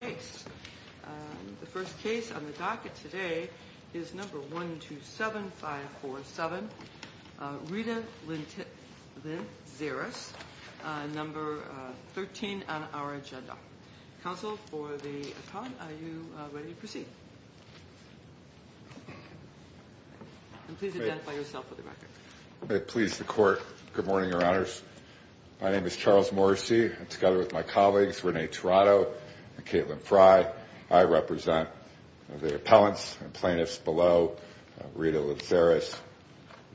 The first case on the docket today is number 127-547, Rita Lintzeris, number 13 on our agenda. Counsel for the attorney, are you ready to proceed? Please identify yourself for the record. Please, the court, good morning, your honors. My name is Charles Morrissey, together with my colleagues Renee Tirado and Caitlin Frye. I represent the appellants and plaintiffs below, Rita Lintzeris,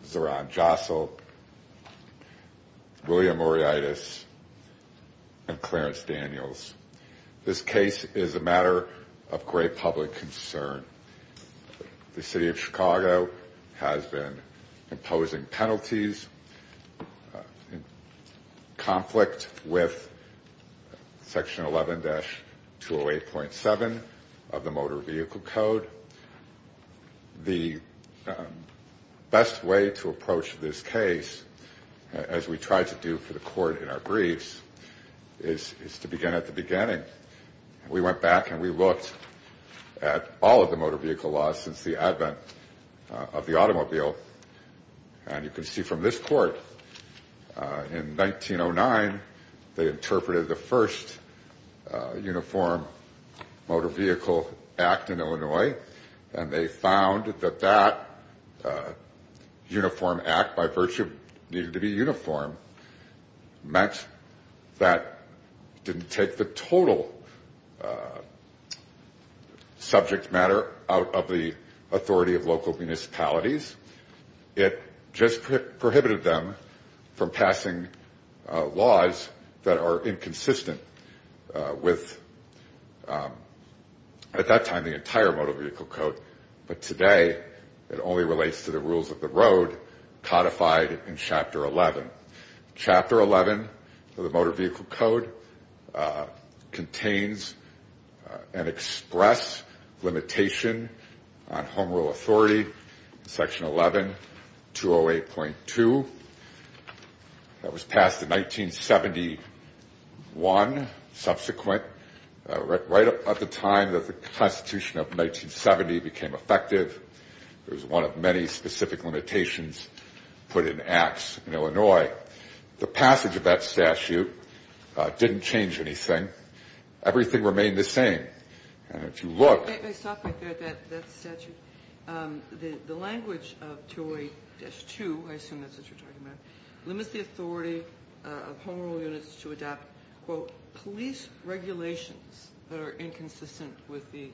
Zoran Josel, William Oreitis, and Clarence Daniels. This case is a matter of great public concern. The City of Chicago has been imposing penalties in conflict with section 11-208.7 of the Motor Vehicle Code. The best way to approach this case, as we try to do for the court in our briefs, is to begin at the beginning. We went back and we looked at all of the motor vehicle laws since the advent of the automobile. And you can see from this court, in 1909, they interpreted the first Uniform Motor Vehicle Act in Illinois. And they found that that uniform act, by virtue of needing to be uniform, meant that it didn't take the total subject matter out of the authority of local municipalities. It just prohibited them from passing laws that are inconsistent with, at that time, the entire Motor Vehicle Code. But today, it only relates to the rules of the road codified in Chapter 11. Chapter 11 of the Motor Vehicle Code contains an express limitation on home rule authority, section 11-208.2. That was passed in 1971, subsequent, right at the time that the Constitution of 1970 became effective. It was one of many specific limitations put in acts in Illinois. The passage of that statute didn't change anything. Everything remained the same. And if you look... I stopped right there at that statute. The language of 208-2, I assume that's what you're talking about, limits the authority of home rule units to adopt, quote, that are inconsistent with the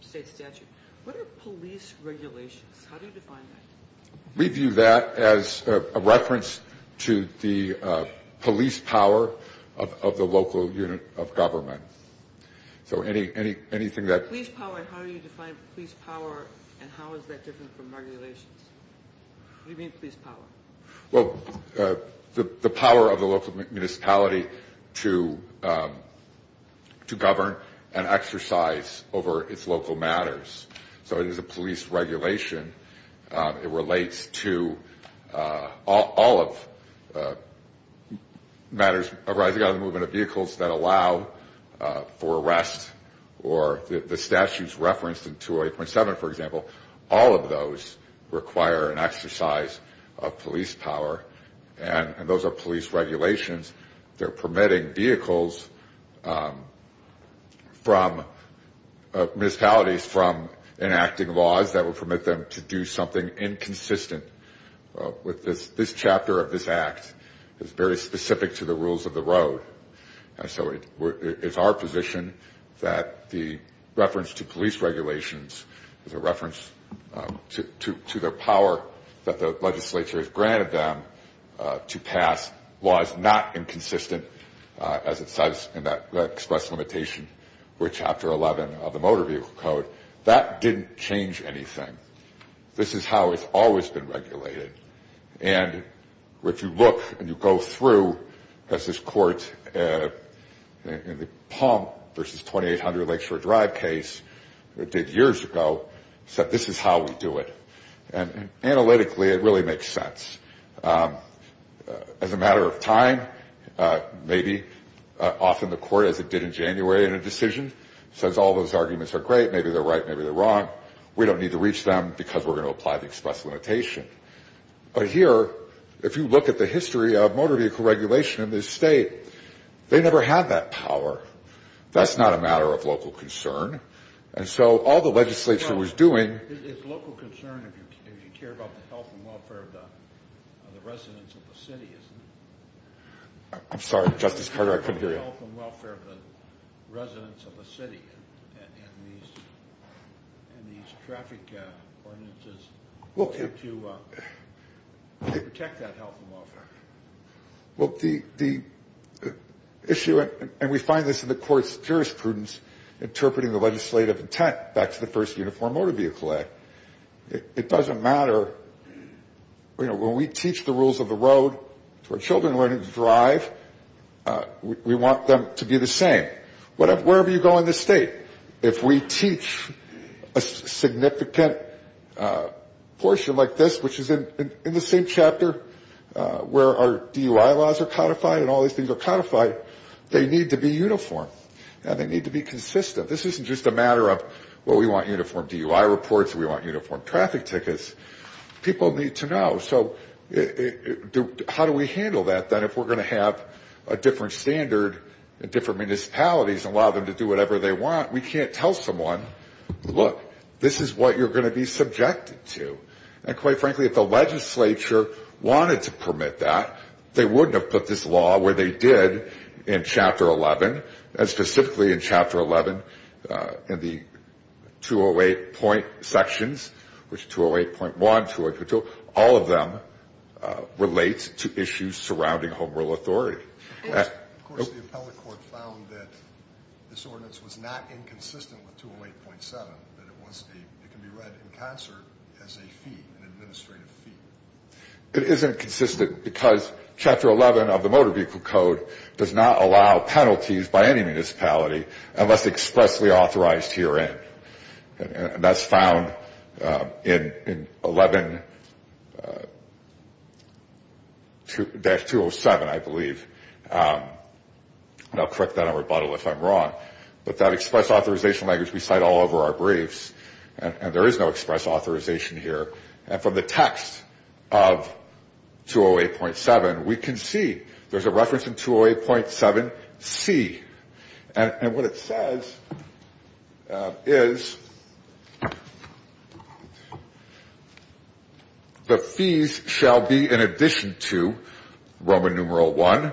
state statute. What are police regulations? How do you define that? We view that as a reference to the police power of the local unit of government. So anything that... Police power, how do you define police power, and how is that different from regulations? What do you mean, police power? Well, the power of the local municipality to govern and exercise over its local matters. So it is a police regulation. It relates to all of matters arising out of the movement of vehicles that allow for arrest, or the statutes referenced in 208.7, for example, all of those require an exercise of police power, and those are police regulations that are permitting vehicles from... municipalities from enacting laws that would permit them to do something inconsistent. This chapter of this act is very specific to the rules of the road. And so it's our position that the reference to police regulations is a reference to the power that the legislature has granted them to pass laws not inconsistent, as it says in that express limitation, with Chapter 11 of the Motor Vehicle Code. That didn't change anything. This is how it's always been regulated. And if you look and you go through, as this court in the Palm v. 2800 Lakeshore Drive case did years ago, said this is how we do it. And analytically, it really makes sense. As a matter of time, maybe often the court, as it did in January in a decision, says all those arguments are great, maybe they're right, maybe they're wrong. We don't need to reach them because we're going to apply the express limitation. But here, if you look at the history of motor vehicle regulation in this state, they never had that power. That's not a matter of local concern. And so all the legislature was doing... It's local concern if you care about the health and welfare of the residents of the city, isn't it? I'm sorry, Justice Carter, I couldn't hear you. The health and welfare of the residents of the city and these traffic ordinances to protect that health and welfare. Well, the issue, and we find this in the court's jurisprudence, interpreting the legislative intent back to the first Uniform Motor Vehicle Act. It doesn't matter. When we teach the rules of the road to our children learning to drive, we want them to be the same. Wherever you go in this state, if we teach a significant portion like this, which is in the same chapter where our DUI laws are codified and all these things are codified, they need to be uniform and they need to be consistent. This isn't just a matter of, well, we want uniform DUI reports, we want uniform traffic tickets. People need to know. So how do we handle that then if we're going to have a different standard in different municipalities and allow them to do whatever they want? We can't tell someone, look, this is what you're going to be subjected to. And quite frankly, if the legislature wanted to permit that, they wouldn't have put this law where they did in Chapter 11, and specifically in Chapter 11 in the 208 point sections, which 208.1, 208.2, all of them relate to issues surrounding home rule authority. Of course the appellate court found that this ordinance was not inconsistent with 208.7, that it can be read in concert as a fee, an administrative fee. It isn't consistent because Chapter 11 of the Motor Vehicle Code does not allow penalties by any municipality unless expressly authorized herein. And that's found in 11-207, I believe. And I'll correct that in rebuttal if I'm wrong. But that express authorization language we cite all over our briefs, and there is no express authorization here. And from the text of 208.7, we can see there's a reference in 208.7C. And what it says is, the fees shall be in addition to Roman numeral I,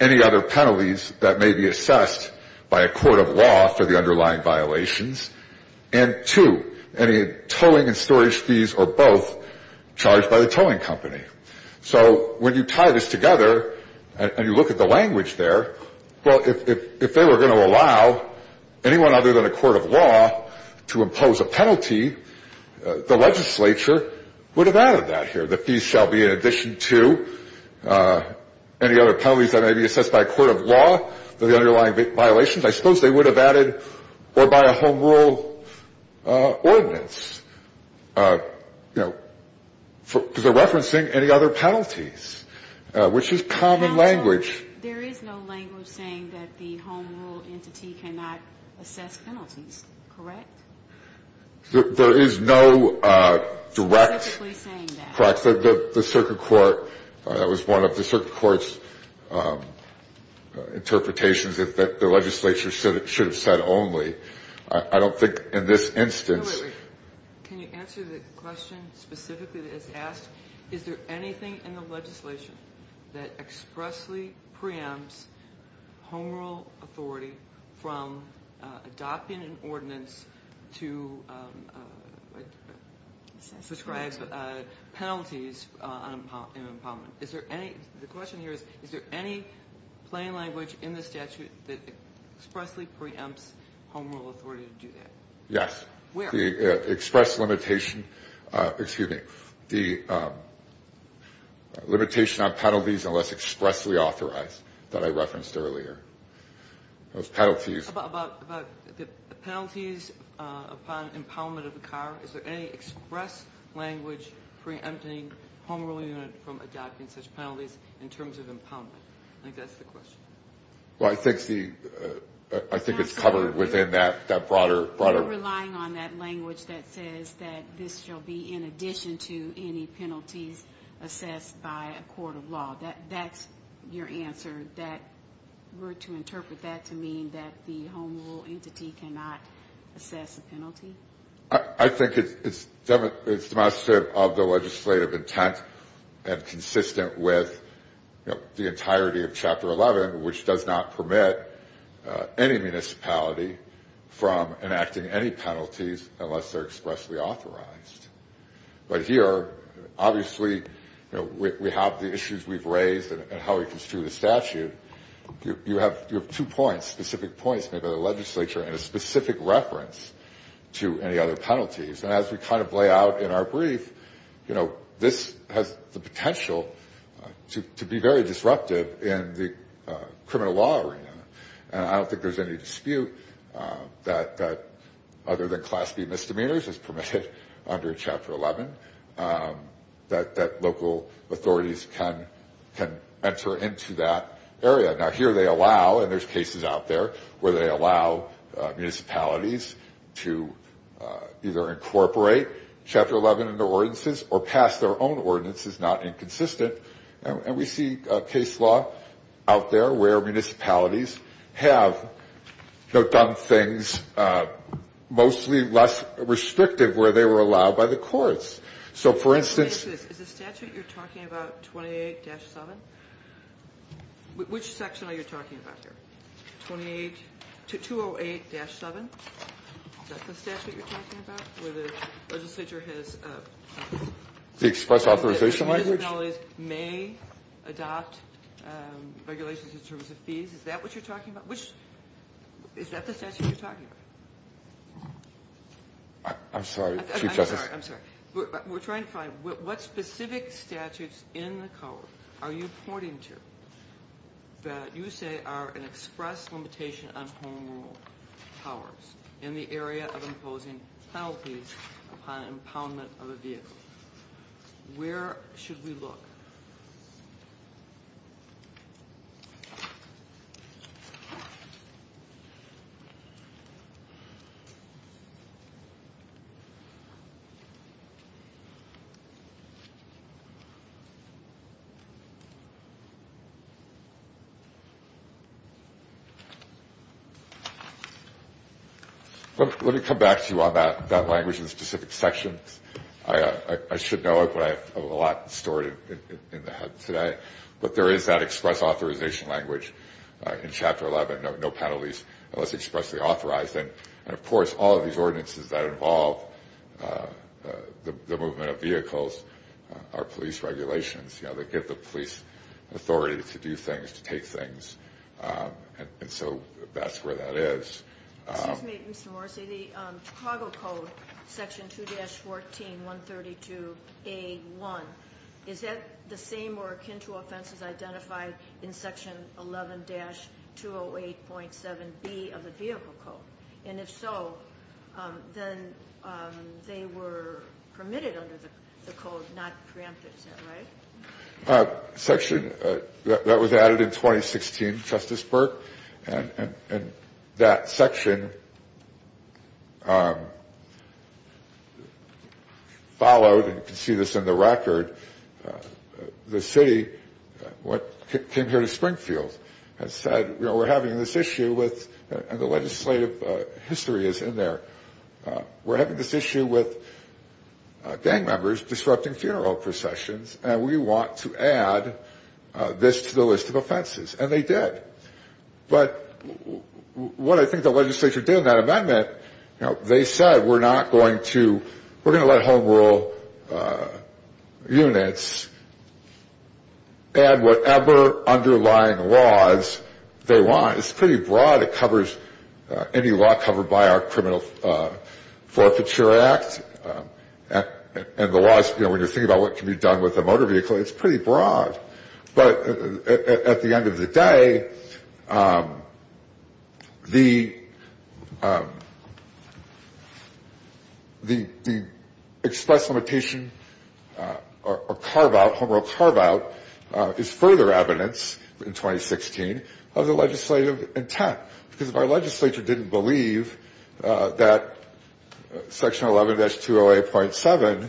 any other penalties that may be assessed by a court of law for the underlying violations, and two, any towing and storage fees or both charged by the towing company. So when you tie this together and you look at the language there, well, if they were going to allow anyone other than a court of law to impose a penalty, the legislature would have added that here. The fees shall be in addition to any other penalties that may be assessed by a court of law for the underlying violations. I suppose they would have added, or by a home rule ordinance, you know, because they're referencing any other penalties, which is common language. There is no language saying that the home rule entity cannot assess penalties, correct? There is no direct. Specifically saying that. Correct. The circuit court, that was one of the circuit court's interpretations, that the legislature should have said only. I don't think in this instance. Wait, wait. Can you answer the question specifically that is asked? Is there anything in the legislation that expressly preempts home rule authority from adopting an ordinance to prescribe penalties on impoundment? Is there any, the question here is, is there any plain language in the statute that expressly preempts home rule authority to do that? Yes. Where? The express limitation, excuse me, the limitation on penalties unless expressly authorized that I referenced earlier. Those penalties. About the penalties upon impoundment of the car, is there any express language preempting home rule unit from adopting such penalties in terms of impoundment? I think that's the question. Well, I think it's covered within that broader. We're relying on that language that says that this shall be in addition to any penalties assessed by a court of law. That's your answer. That we're to interpret that to mean that the home rule entity cannot assess a penalty? I think it's demonstrative of the legislative intent and consistent with the entirety of Chapter 11, which does not permit any municipality from enacting any penalties unless they're expressly authorized. But here, obviously, we have the issues we've raised and how we construe the statute. You have two points, specific points made by the legislature and a specific reference to any other penalties. And as we kind of lay out in our brief, you know, this has the potential to be very disruptive in the criminal law arena. And I don't think there's any dispute that other than Class B misdemeanors is permitted under Chapter 11, that local authorities can enter into that area. Now, here they allow, and there's cases out there where they allow municipalities to either incorporate Chapter 11 into ordinances or pass their own ordinances, not inconsistent. And we see case law out there where municipalities have done things mostly less restrictive where they were allowed by the courts. So, for instance... Is the statute you're talking about 28-7? Which section are you talking about here? 208-7? Is that the statute you're talking about where the legislature has... The express authorization language? Where municipalities may adopt regulations in terms of fees? Is that what you're talking about? Which... Is that the statute you're talking about? I'm sorry, Chief Justice. I'm sorry, I'm sorry. We're trying to find what specific statutes in the code are you pointing to that you say are an express limitation on home rule powers in the area of imposing penalties upon impoundment of a vehicle? Where should we look? Let me come back to you on that language in specific sections. I should know it, but I have a lot stored in my head today. But there is that express authorization language in Chapter 11. No penalties unless expressly authorized. And, of course, all of these ordinances that involve the movement of vehicles are police regulations. They give the police authority to do things, to take things. And so that's where that is. Excuse me, Mr. Morrissey. The Chicago Code, Section 2-14-132A1, is that the same or akin to offenses identified in Section 11-208.7B of the Vehicle Code? And if so, then they were permitted under the code, not preempted. Is that right? Section, that was added in 2016, Justice Burke, and that section followed, and you can see this in the record, the city came here to Springfield and said, you know, we're having this issue with, and the legislative history is in there, we're having this issue with gang members disrupting funeral processions, and we want to add this to the list of offenses. And they did. But what I think the legislature did in that amendment, you know, they said we're not going to, we're going to let Home Rule units add whatever underlying laws they want. It's pretty broad. It covers any law covered by our Criminal Forfeiture Act, and the laws, you know, when you're thinking about what can be done with a motor vehicle, it's pretty broad. But at the end of the day, the express limitation or carve-out, Home Rule carve-out is further evidence in 2016 of the legislative intent. Because if our legislature didn't believe that Section 11-208.7,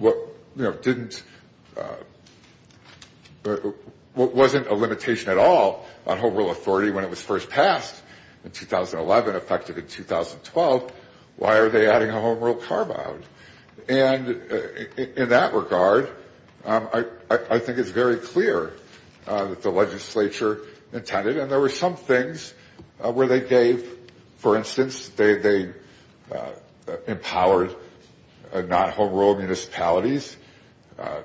you know, didn't, wasn't a limitation at all on Home Rule authority when it was first passed in 2011, effective in 2012, why are they adding a Home Rule carve-out? And in that regard, I think it's very clear that the legislature intended, and there were some things where they gave, for instance, they empowered non-Home Rule municipalities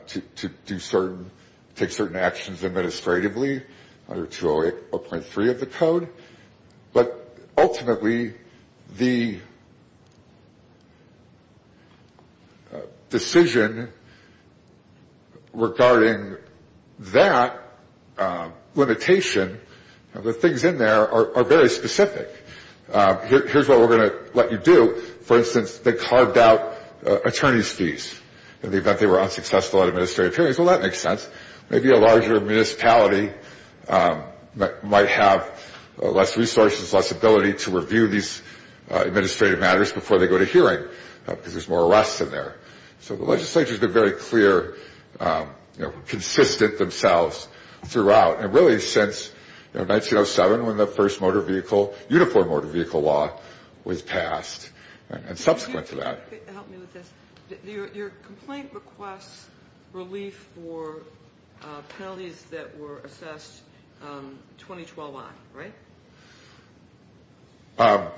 to do certain, take certain actions administratively under 208.3 of the code. But ultimately, the decision regarding that limitation, the things in there are very specific. Here's what we're going to let you do. For instance, they carved out attorney's fees in the event they were unsuccessful at administrative hearings. Well, that makes sense. Maybe a larger municipality might have less resources, less ability to review these administrative matters before they go to hearing because there's more arrests in there. So the legislature has been very clear, consistent themselves throughout, and really since 1907 when the first motor vehicle, uniform motor vehicle law was passed, and subsequent to that. Your complaint requests relief for penalties that were assessed 2012 on, right?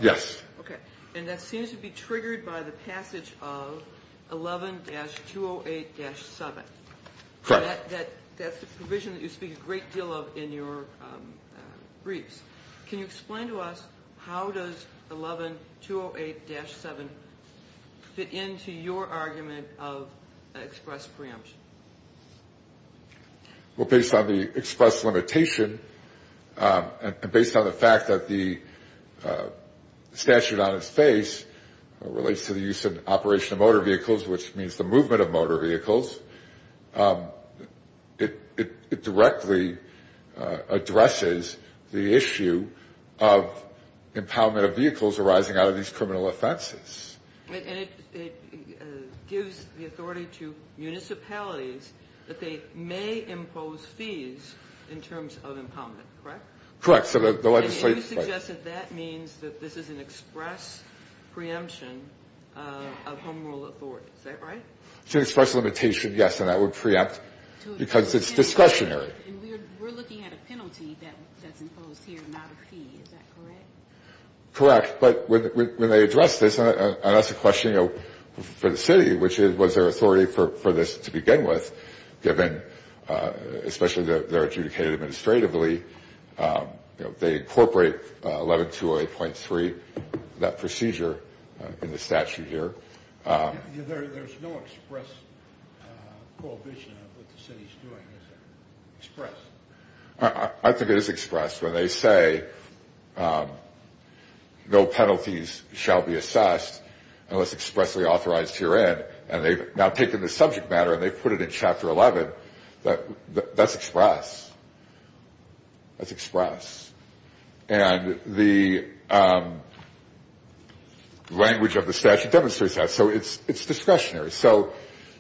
Yes. Okay. And that seems to be triggered by the passage of 11-208-7. Correct. That's the provision that you speak a great deal of in your briefs. Can you explain to us how does 11-208-7 fit into your argument of express preemption? Well, based on the express limitation and based on the fact that the statute on its face relates to the use and operation of motor vehicles, which means the movement of motor vehicles, it directly addresses the issue of impoundment of vehicles arising out of these criminal offenses. And it gives the authority to municipalities that they may impose fees in terms of impoundment, correct? Correct. And you suggest that that means that this is an express preemption of home rule authority. Is that right? It's an express limitation, yes, and that would preempt because it's discretionary. And we're looking at a penalty that's imposed here, not a fee. Is that correct? Correct. But when they address this, and that's a question, you know, for the city, which was their authority for this to begin with, given especially that they're adjudicated administratively, they incorporate 11-208.3, that procedure in the statute here. There's no express prohibition of what the city's doing, is there? Express? I think it is express. When they say no penalties shall be assessed unless expressly authorized to your end, and they've now taken the subject matter and they've put it in Chapter 11, that's express. That's express. And the language of the statute demonstrates that. So it's discretionary. So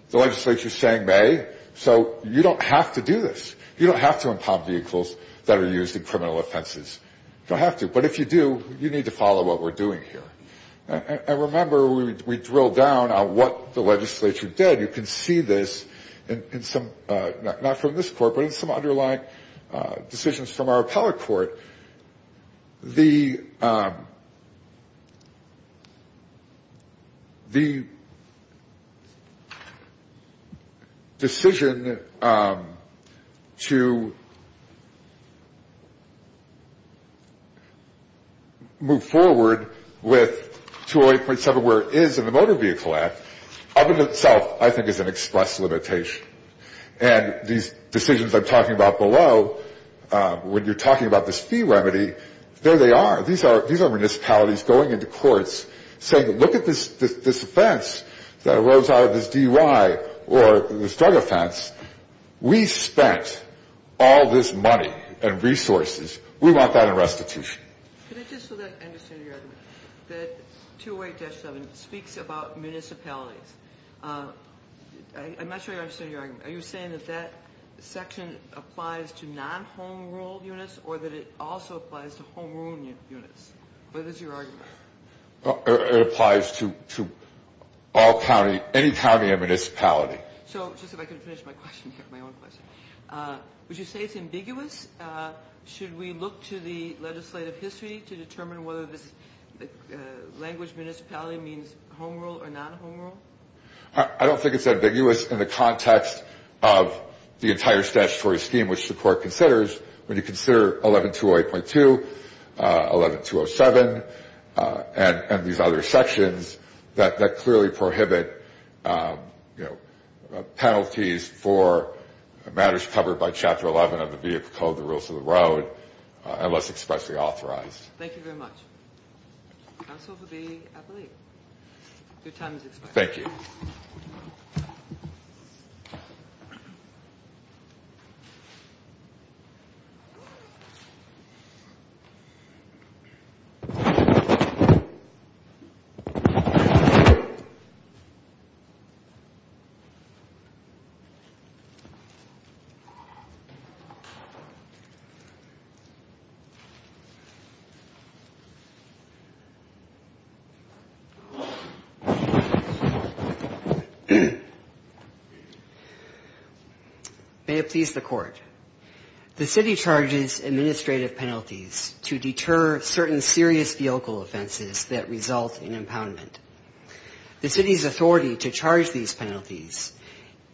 the legislature's saying they, so you don't have to do this. You don't have to impound vehicles that are used in criminal offenses. You don't have to. But if you do, you need to follow what we're doing here. And remember, we drill down on what the legislature did. And you can see this in some, not from this court, but in some underlying decisions from our appellate court. The decision to move forward with 208.7 where it is in the Motor Vehicle Act, I think is an express limitation. And these decisions I'm talking about below, when you're talking about this fee remedy, there they are. These are municipalities going into courts saying, look at this offense that arose out of this DUI or this drug offense. We spent all this money and resources. We want that in restitution. Can I just so that I understand your argument that 208-7 speaks about municipalities? I'm not sure I understand your argument. Are you saying that that section applies to non-home rule units or that it also applies to home rule units? What is your argument? It applies to all county, any county or municipality. So just if I could finish my question here, my own question. Would you say it's ambiguous? Should we look to the legislative history to determine whether this language municipality means home rule or non-home rule? I don't think it's ambiguous in the context of the entire statutory scheme, which the court considers when you consider 11208.2, 11207, and these other sections that clearly prohibit penalties for matters covered by Chapter 11 of the Vehicle Code, the Rules of the Road, unless expressly authorized. Thank you very much. Counsel for the appellate. Your time is expired. Thank you. Thank you. May it please the Court. The city charges administrative penalties to deter certain serious vehicle offenses that result in impoundment. The city's authority to charge these penalties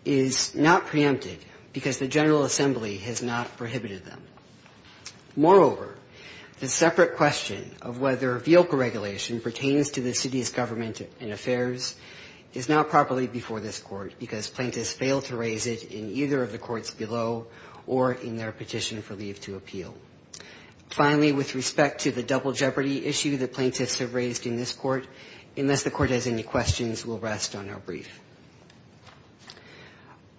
is not preempted because the General Assembly has not prohibited them. Moreover, the separate question of whether vehicle regulation pertains to the city's government and affairs is not properly before this court because plaintiffs fail to raise it in either of the courts below or in their petition for leave to appeal. Finally, with respect to the double jeopardy issue that plaintiffs have raised in this court, unless the court has any questions, we'll rest on our brief.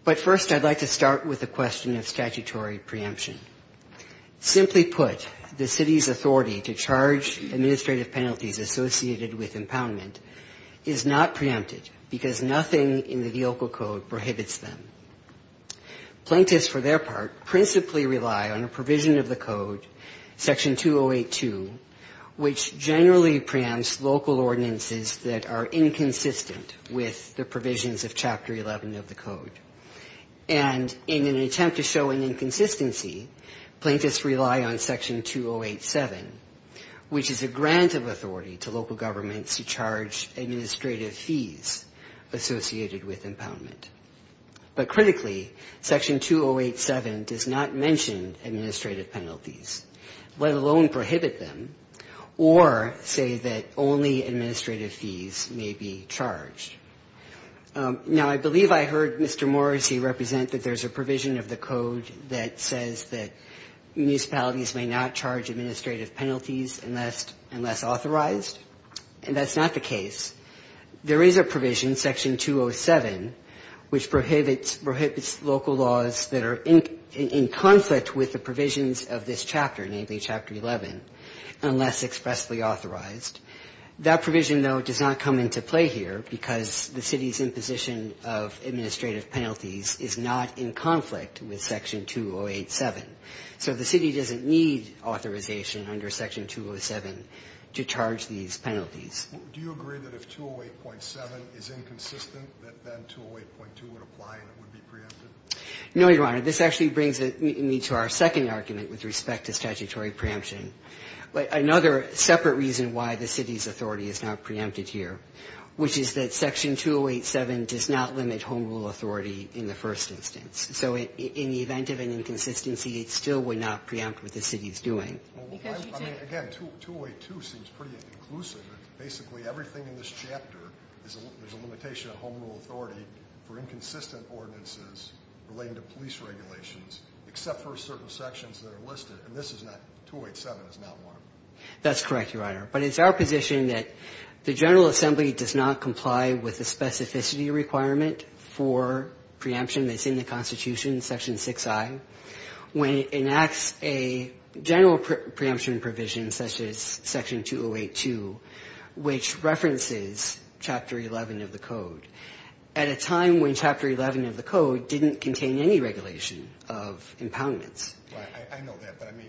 But first I'd like to start with the question of statutory preemption. Simply put, the city's authority to charge administrative penalties associated with impoundment is not preempted because nothing in the Vehicle Code prohibits them. Plaintiffs, for their part, principally rely on a provision of the Code, Section 2082, which generally preempts local ordinances that are inconsistent with the provisions of Chapter 11 of the Code. And in an attempt to show an inconsistency, plaintiffs rely on Section 2087, which is a grant of authority to local governments to charge administrative fees associated with impoundment. But critically, Section 2087 does not mention administrative penalties, let alone prohibit them, or say that only administrative fees may be charged. Now, I believe I heard Mr. Morrissey represent that there's a provision of the Code that says that municipalities may not charge administrative penalties unless authorized, and that's not the case. There is a provision, Section 207, which prohibits local laws that are in conflict with the provisions of this chapter, namely Chapter 11, unless expressly authorized. That provision, though, does not come into play here because the city's imposition of administrative penalties is not in conflict with Section 2087. So the city doesn't need authorization under Section 207 to charge these penalties. Do you agree that if 208.7 is inconsistent, that then 208.2 would apply and it would be preempted? No, Your Honor. This actually brings me to our second argument with respect to statutory preemption. Another separate reason why the city's authority is not preempted here, which is that Section 2087 does not limit home rule authority in the first instance. So in the event of an inconsistency, it still would not preempt what the city is doing. Well, I mean, again, 208.2 seems pretty inclusive. It's basically everything in this chapter is a limitation of home rule authority for inconsistent ordinances relating to police regulations, except for certain sections that are listed. And this is not 208.7 is not one. That's correct, Your Honor. But it's our position that the General Assembly does not comply with the specificity requirement for preemption that's in the Constitution, Section 6i. When it enacts a general preemption provision, such as Section 208.2, which references Chapter 11 of the Code, at a time when Chapter 11 of the Code didn't contain any regulation of impoundments. I know that. But, I mean,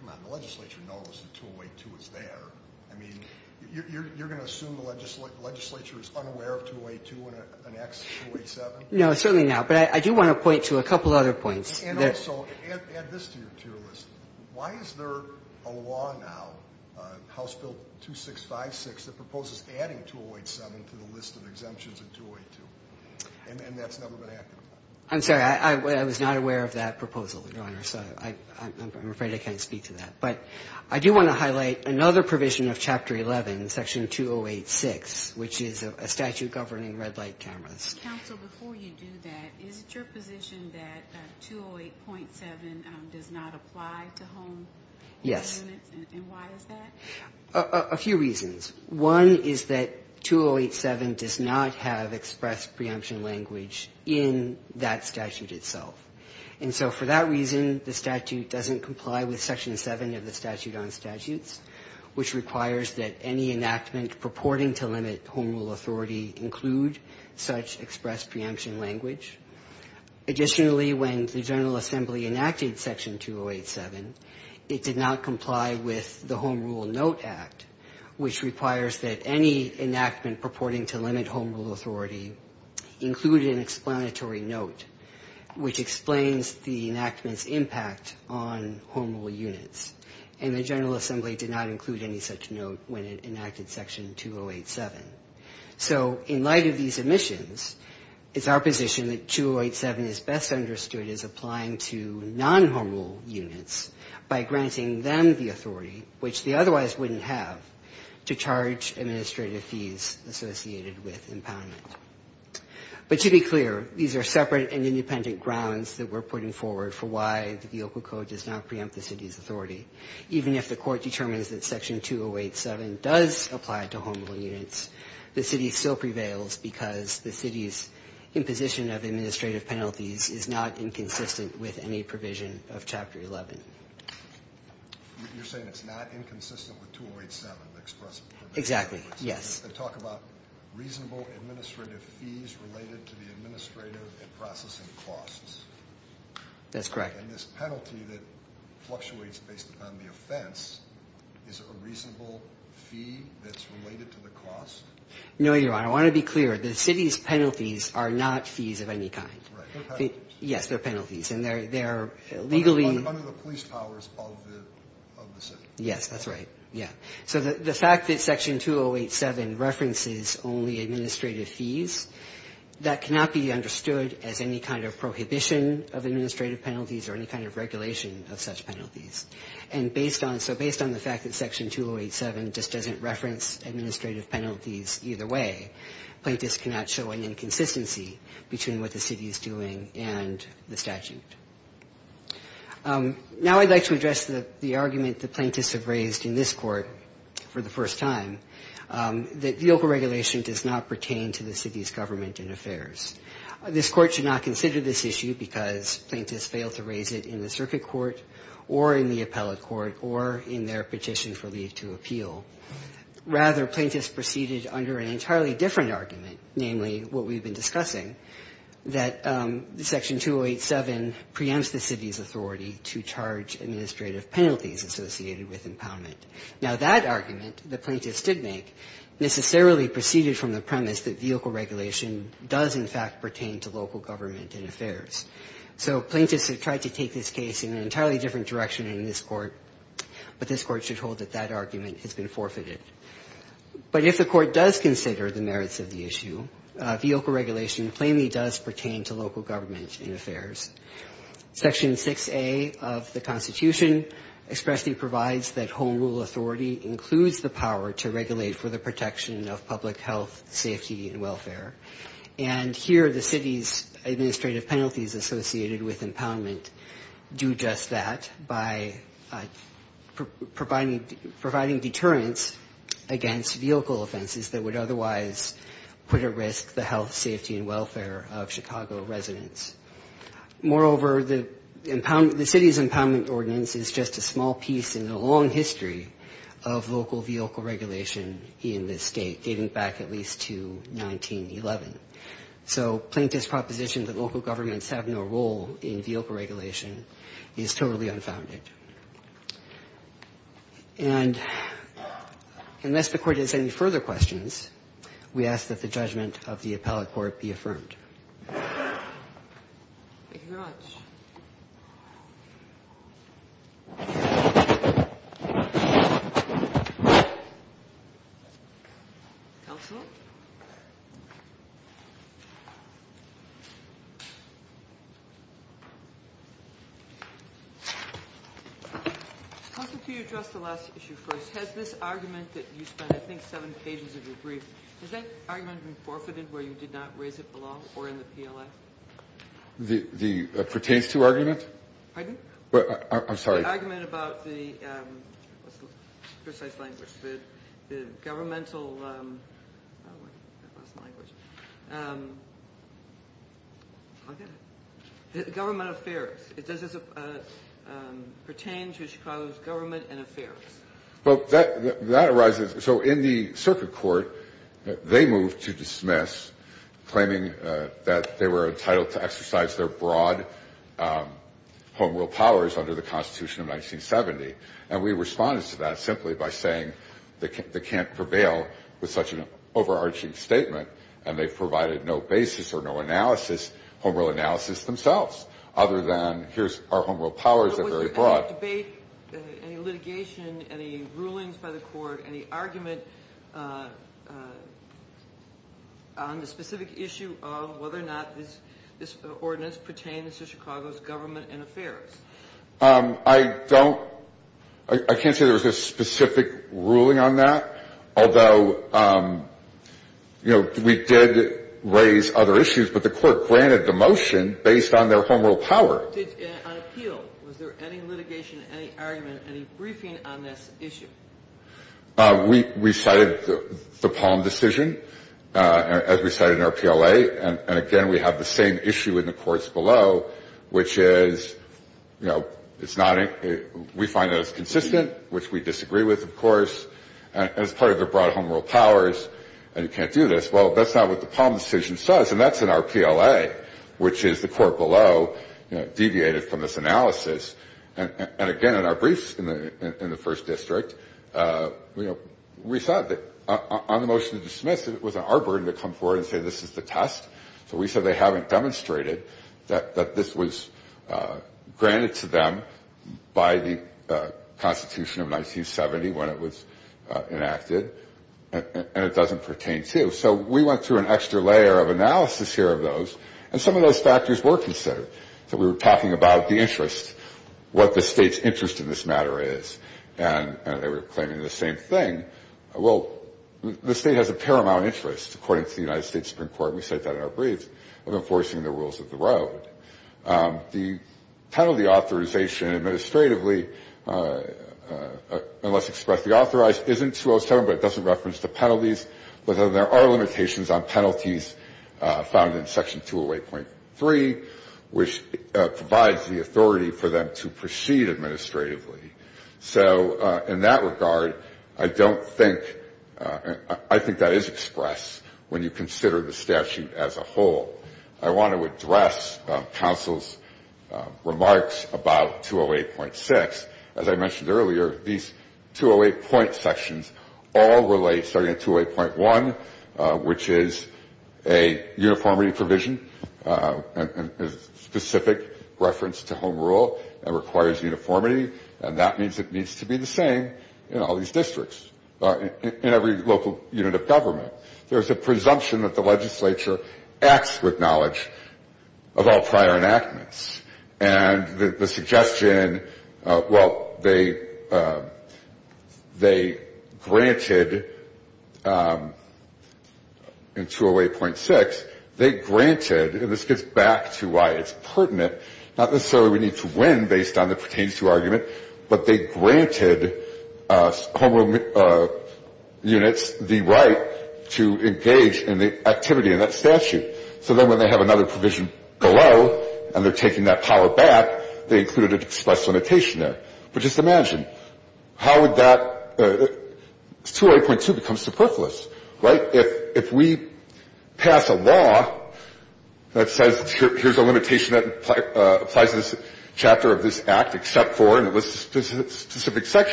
come on. The legislature knows that 208.2 is there. I mean, you're going to assume the legislature is unaware of 208.2 when it enacts 208.7? No, certainly not. But I do want to point to a couple other points. And also add this to your tier list. Why is there a law now, House Bill 2656, that proposes adding 208.7 to the list of exemptions of 208.2? And that's never been acted upon. I'm sorry. I was not aware of that proposal, Your Honor. So I'm afraid I can't speak to that. But I do want to highlight another provision of Chapter 11, Section 208.6, which is a statute governing red light cameras. Counsel, before you do that, is it your position that 208.7 does not apply to home units? Yes. And why is that? A few reasons. One is that 208.7 does not have expressed preemption language in that statute itself. And so for that reason, the statute doesn't comply with Section 7 of the Statute on Statutes, which requires that any enactment purporting to limit home rule authority include such expressed preemption language. Additionally, when the General Assembly enacted Section 208.7, it did not comply with the Home Rule Note Act, which requires that any enactment purporting to limit home rule authority include an explanatory note, which explains the enactment's impact on home rule units. And the General Assembly did not include any such note when it enacted Section 208.7. So in light of these omissions, it's our position that 208.7 is best understood as applying to non-home rule units by granting them the authority, which they otherwise wouldn't have, to charge administrative fees associated with impoundment. But to be clear, these are separate and independent grounds that we're putting forward for why the VOCA code does not preempt the city's authority, even if the city still prevails because the city's imposition of administrative penalties is not inconsistent with any provision of Chapter 11. You're saying it's not inconsistent with 208.7, the expressive prevention language? Exactly, yes. They talk about reasonable administrative fees related to the administrative and processing costs. That's correct. And this penalty that fluctuates based upon the offense is a reasonable fee that's No, Your Honor. I want to be clear. The city's penalties are not fees of any kind. Right. They're penalties. Yes, they're penalties. And they're legally under the police powers of the city. Yes, that's right. Yeah. So the fact that Section 208.7 references only administrative fees, that cannot be understood as any kind of prohibition of administrative penalties or any kind of regulation of such penalties. And so based on the fact that Section 208.7 just doesn't reference administrative penalties either way, plaintiffs cannot show an inconsistency between what the city is doing and the statute. Now I'd like to address the argument that plaintiffs have raised in this court for the first time, that the overregulation does not pertain to the city's government and affairs. This court should not consider this issue because plaintiffs failed to raise it in the circuit court or in the appellate court or in their petition for leave to appeal. Rather, plaintiffs proceeded under an entirely different argument, namely what we've been discussing, that Section 208.7 preempts the city's authority to charge administrative penalties associated with impoundment. Now that argument, the plaintiffs did make, necessarily proceeded from the premise that vehicle regulation does in fact pertain to local government and affairs. So plaintiffs have tried to take this case in an entirely different direction in this court, but this court should hold that that argument has been forfeited. But if the court does consider the merits of the issue, vehicle regulation plainly does pertain to local government and affairs. Section 6A of the Constitution expressly provides that home rule authority includes the power to regulate for the protection of public health, safety, and welfare. And here the city's administrative penalties associated with impoundment do just that by providing deterrence against vehicle offenses that would otherwise put at risk the health, safety, and welfare of Chicago residents. Moreover, the city's impoundment ordinance is just a small piece in the long history of local vehicle regulation in this state, dating back at least to 1911. So plaintiffs' proposition that local governments have no role in vehicle regulation is totally unfounded. And unless the Court has any further questions, we ask that the judgment of the appellate court be affirmed. Thank you very much. Counsel? Counsel, can you address the last issue first? Has this argument that you spent, I think, seven pages of your brief, has that been discussed before in the PLA? The pertains to argument? Pardon? I'm sorry. The argument about the, what's the precise language? The governmental, I lost the language. Government affairs. Does this pertain to Chicago's government and affairs? Well, that arises. So in the circuit court, they moved to dismiss, claiming that they were entitled to exercise their broad home rule powers under the Constitution of 1970. And we responded to that simply by saying they can't prevail with such an overarching statement, and they provided no basis or no analysis, home rule analysis themselves, other than here's our home rule powers, they're very broad. Any litigation, any rulings by the court, any argument on the specific issue of whether or not this ordinance pertains to Chicago's government and affairs? I don't, I can't say there was a specific ruling on that. Although, you know, we did raise other issues, but the court granted the motion based on their home rule power. The court did, on appeal, was there any litigation, any argument, any briefing on this issue? We cited the Palm decision, as we cited in our PLA, and again, we have the same issue in the courts below, which is, you know, it's not, we find that it's consistent, which we disagree with, of course, as part of their broad home rule powers, and you can't do this. Well, that's not what the Palm decision says, and that's in our PLA, which is the analysis, and again, in our briefs in the first district, you know, we thought that on the motion to dismiss it, it wasn't our burden to come forward and say this is the test, so we said they haven't demonstrated that this was granted to them by the Constitution of 1970 when it was enacted, and it doesn't pertain to. So we went through an extra layer of analysis here of those, and some of those factors were considered. So we were talking about the interest, what the state's interest in this matter is, and they were claiming the same thing. Well, the state has a paramount interest, according to the United States Supreme Court, and we cite that in our briefs, of enforcing the rules of the road. The penalty authorization administratively, unless expressly authorized, isn't 207, but it doesn't reference the penalties, but there are limitations on penalties found in Section 208.3, which provides the authority for them to proceed administratively. So in that regard, I don't think – I think that is expressed when you consider the statute as a whole. I want to address counsel's remarks about 208.6. As I mentioned earlier, these 208 point sections all relate, starting at 208.1, which is a uniformity provision, a specific reference to home rule that requires uniformity, and that means it needs to be the same in all these districts, in every local unit of government. There is a presumption that the legislature acts with knowledge of all prior enactments. And the suggestion – well, they granted in 208.6, they granted – and this gets back to why it's pertinent – not necessarily we need to win based on the pertains to argument, but they granted home rule units the right to engage in the activity in that statute. Now, if you look at 208.2, you'll see that there is a limitation there. It's that there is no limitation. So then when they have another provision below and they're taking that power back, they included an express limitation there. But just imagine, how would that – 208.2 becomes superfluous, right? So the question is, why would we have this limitation of the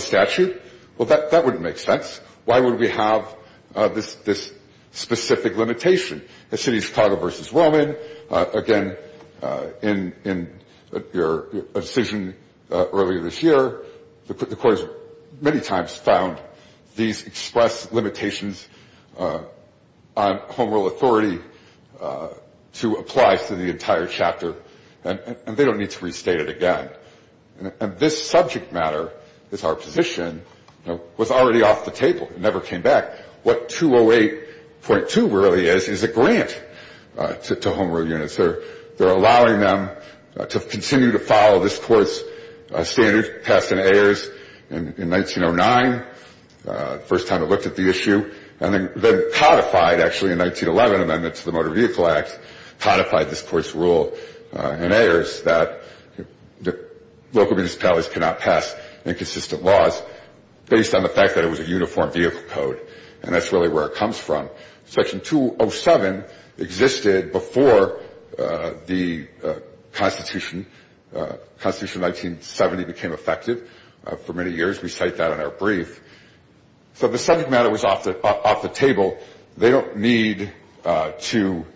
statute? Well, that wouldn't make sense. Why would we have this specific limitation? The city of Chicago v. Roman, again, in your decision earlier this year, the courts many times found these express limitations on home rule authority to apply to the entire chapter. And they don't need to restate it again. And this subject matter is our position was already off the table. It never came back. What 208.2 really is, is a grant to home rule units. They're allowing them to continue to follow this Court's standard passed in Ayers in 1909, the first time it looked at the issue. And then codified, actually, in 1911, amendment to the Motor Vehicle Act codified this Court's rule in Ayers that local municipalities cannot pass inconsistent laws based on the fact that it was a uniform vehicle code. And that's really where it comes from. Section 207 existed before the Constitution. The Constitution of 1970 became effective for many years. We cite that in our brief. So the subject matter was off the table. They don't need to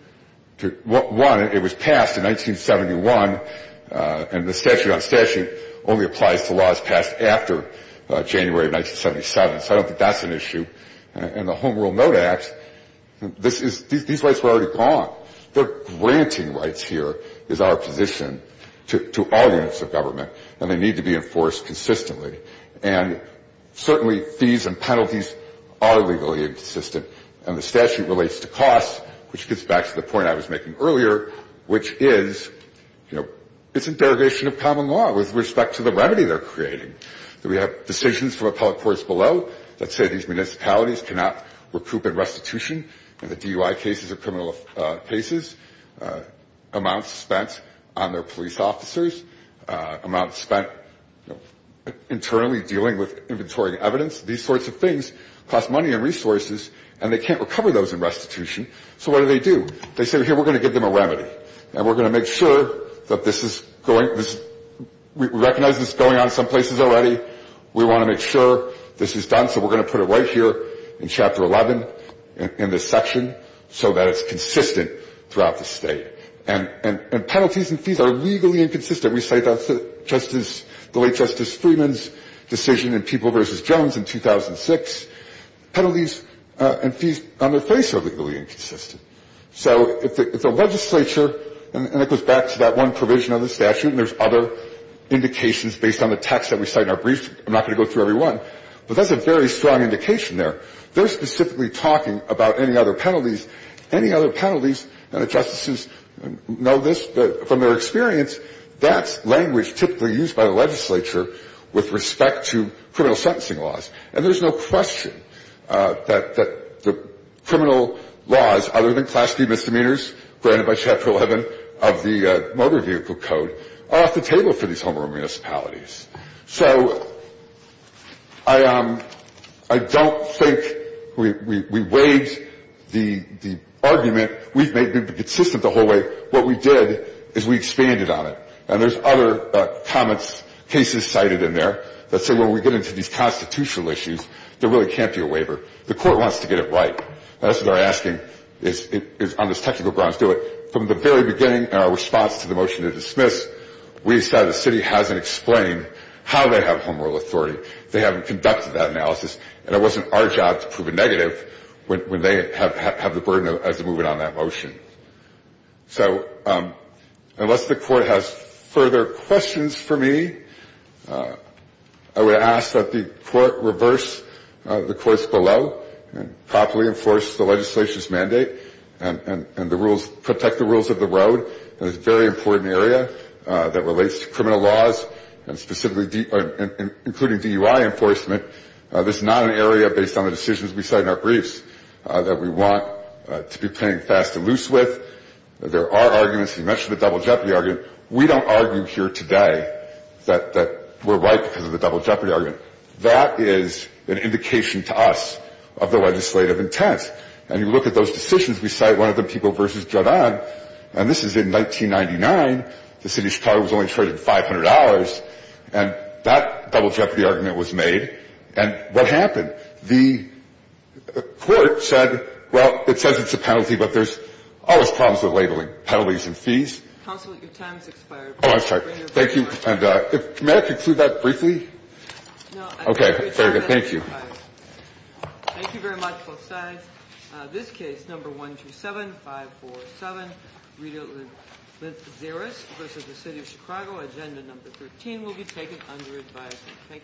one, it was passed in 1971, and the statute on statute only applies to laws passed after January of 1977. So I don't think that's an issue. In the Home Rule Note Act, this is these rights were already gone. They're granting rights here is our position to all units of government, and they need to be enforced consistently. And certainly fees and penalties are legally inconsistent. And the statute relates to costs, which gets back to the point I was making earlier, which is, you know, it's a derogation of common law with respect to the remedy they're creating. We have decisions from appellate courts below that say these municipalities cannot recoup in restitution in the DUI cases or criminal cases, amounts spent on their police officers, amounts spent internally dealing with inventory and evidence. These sorts of things cost money and resources, and they can't recover those in restitution. So what do they do? They say, here, we're going to give them a remedy, and we're going to make sure that this is going to recognize this is going on some places already. We want to make sure this is done, so we're going to put it right here in Chapter 11 in this section so that it's consistent throughout the state. And penalties and fees are legally inconsistent. The fact that we cite Justice – the late Justice Freeman's decision in People v. Jones in 2006, penalties and fees on their face are legally inconsistent. So if the legislature – and it goes back to that one provision of the statute, and there's other indications based on the text that we cite in our brief. I'm not going to go through every one, but that's a very strong indication there. They're specifically talking about any other penalties. Any other penalties, and the justices know this from their experience, that's language typically used by the legislature with respect to criminal sentencing laws. And there's no question that the criminal laws, other than class B misdemeanors, granted by Chapter 11 of the Motor Vehicle Code, are off the table for these homeowner municipalities. So I don't think we weighed the argument. We've made it consistent the whole way. What we did is we expanded on it. And there's other comments, cases cited in there that say when we get into these constitutional issues, there really can't be a waiver. The court wants to get it right. That's what they're asking on this technical grounds, do it. From the very beginning in our response to the motion to dismiss, we decided the city hasn't explained how they have home rule authority. They haven't conducted that analysis, and it wasn't our job to prove a negative when they have the burden as to move in on that motion. So unless the court has further questions for me, I would ask that the court reverse the courts below and properly enforce the legislation's mandate and the rules, protect the rules of the road in this very important area that relates to criminal laws and specifically including DUI enforcement. This is not an area based on the decisions we cite in our briefs that we want to be fast and loose with. There are arguments. You mentioned the double jeopardy argument. We don't argue here today that we're right because of the double jeopardy argument. That is an indication to us of the legislative intent. And you look at those decisions. We cite one of the people versus Judd-Odd. And this is in 1999. The city of Chicago was only traded $500, and that double jeopardy argument was made. And what happened? And the court said, well, it says it's a penalty, but there's always problems with labeling penalties and fees. Counsel, your time has expired. Oh, I'm sorry. Thank you. And may I conclude that briefly? No. Okay. Very good. Thank you. Thank you very much, both sides. This case, No. 127-547, Zeres v. The City of Chicago, Agenda No. 13, will be taken under advisement.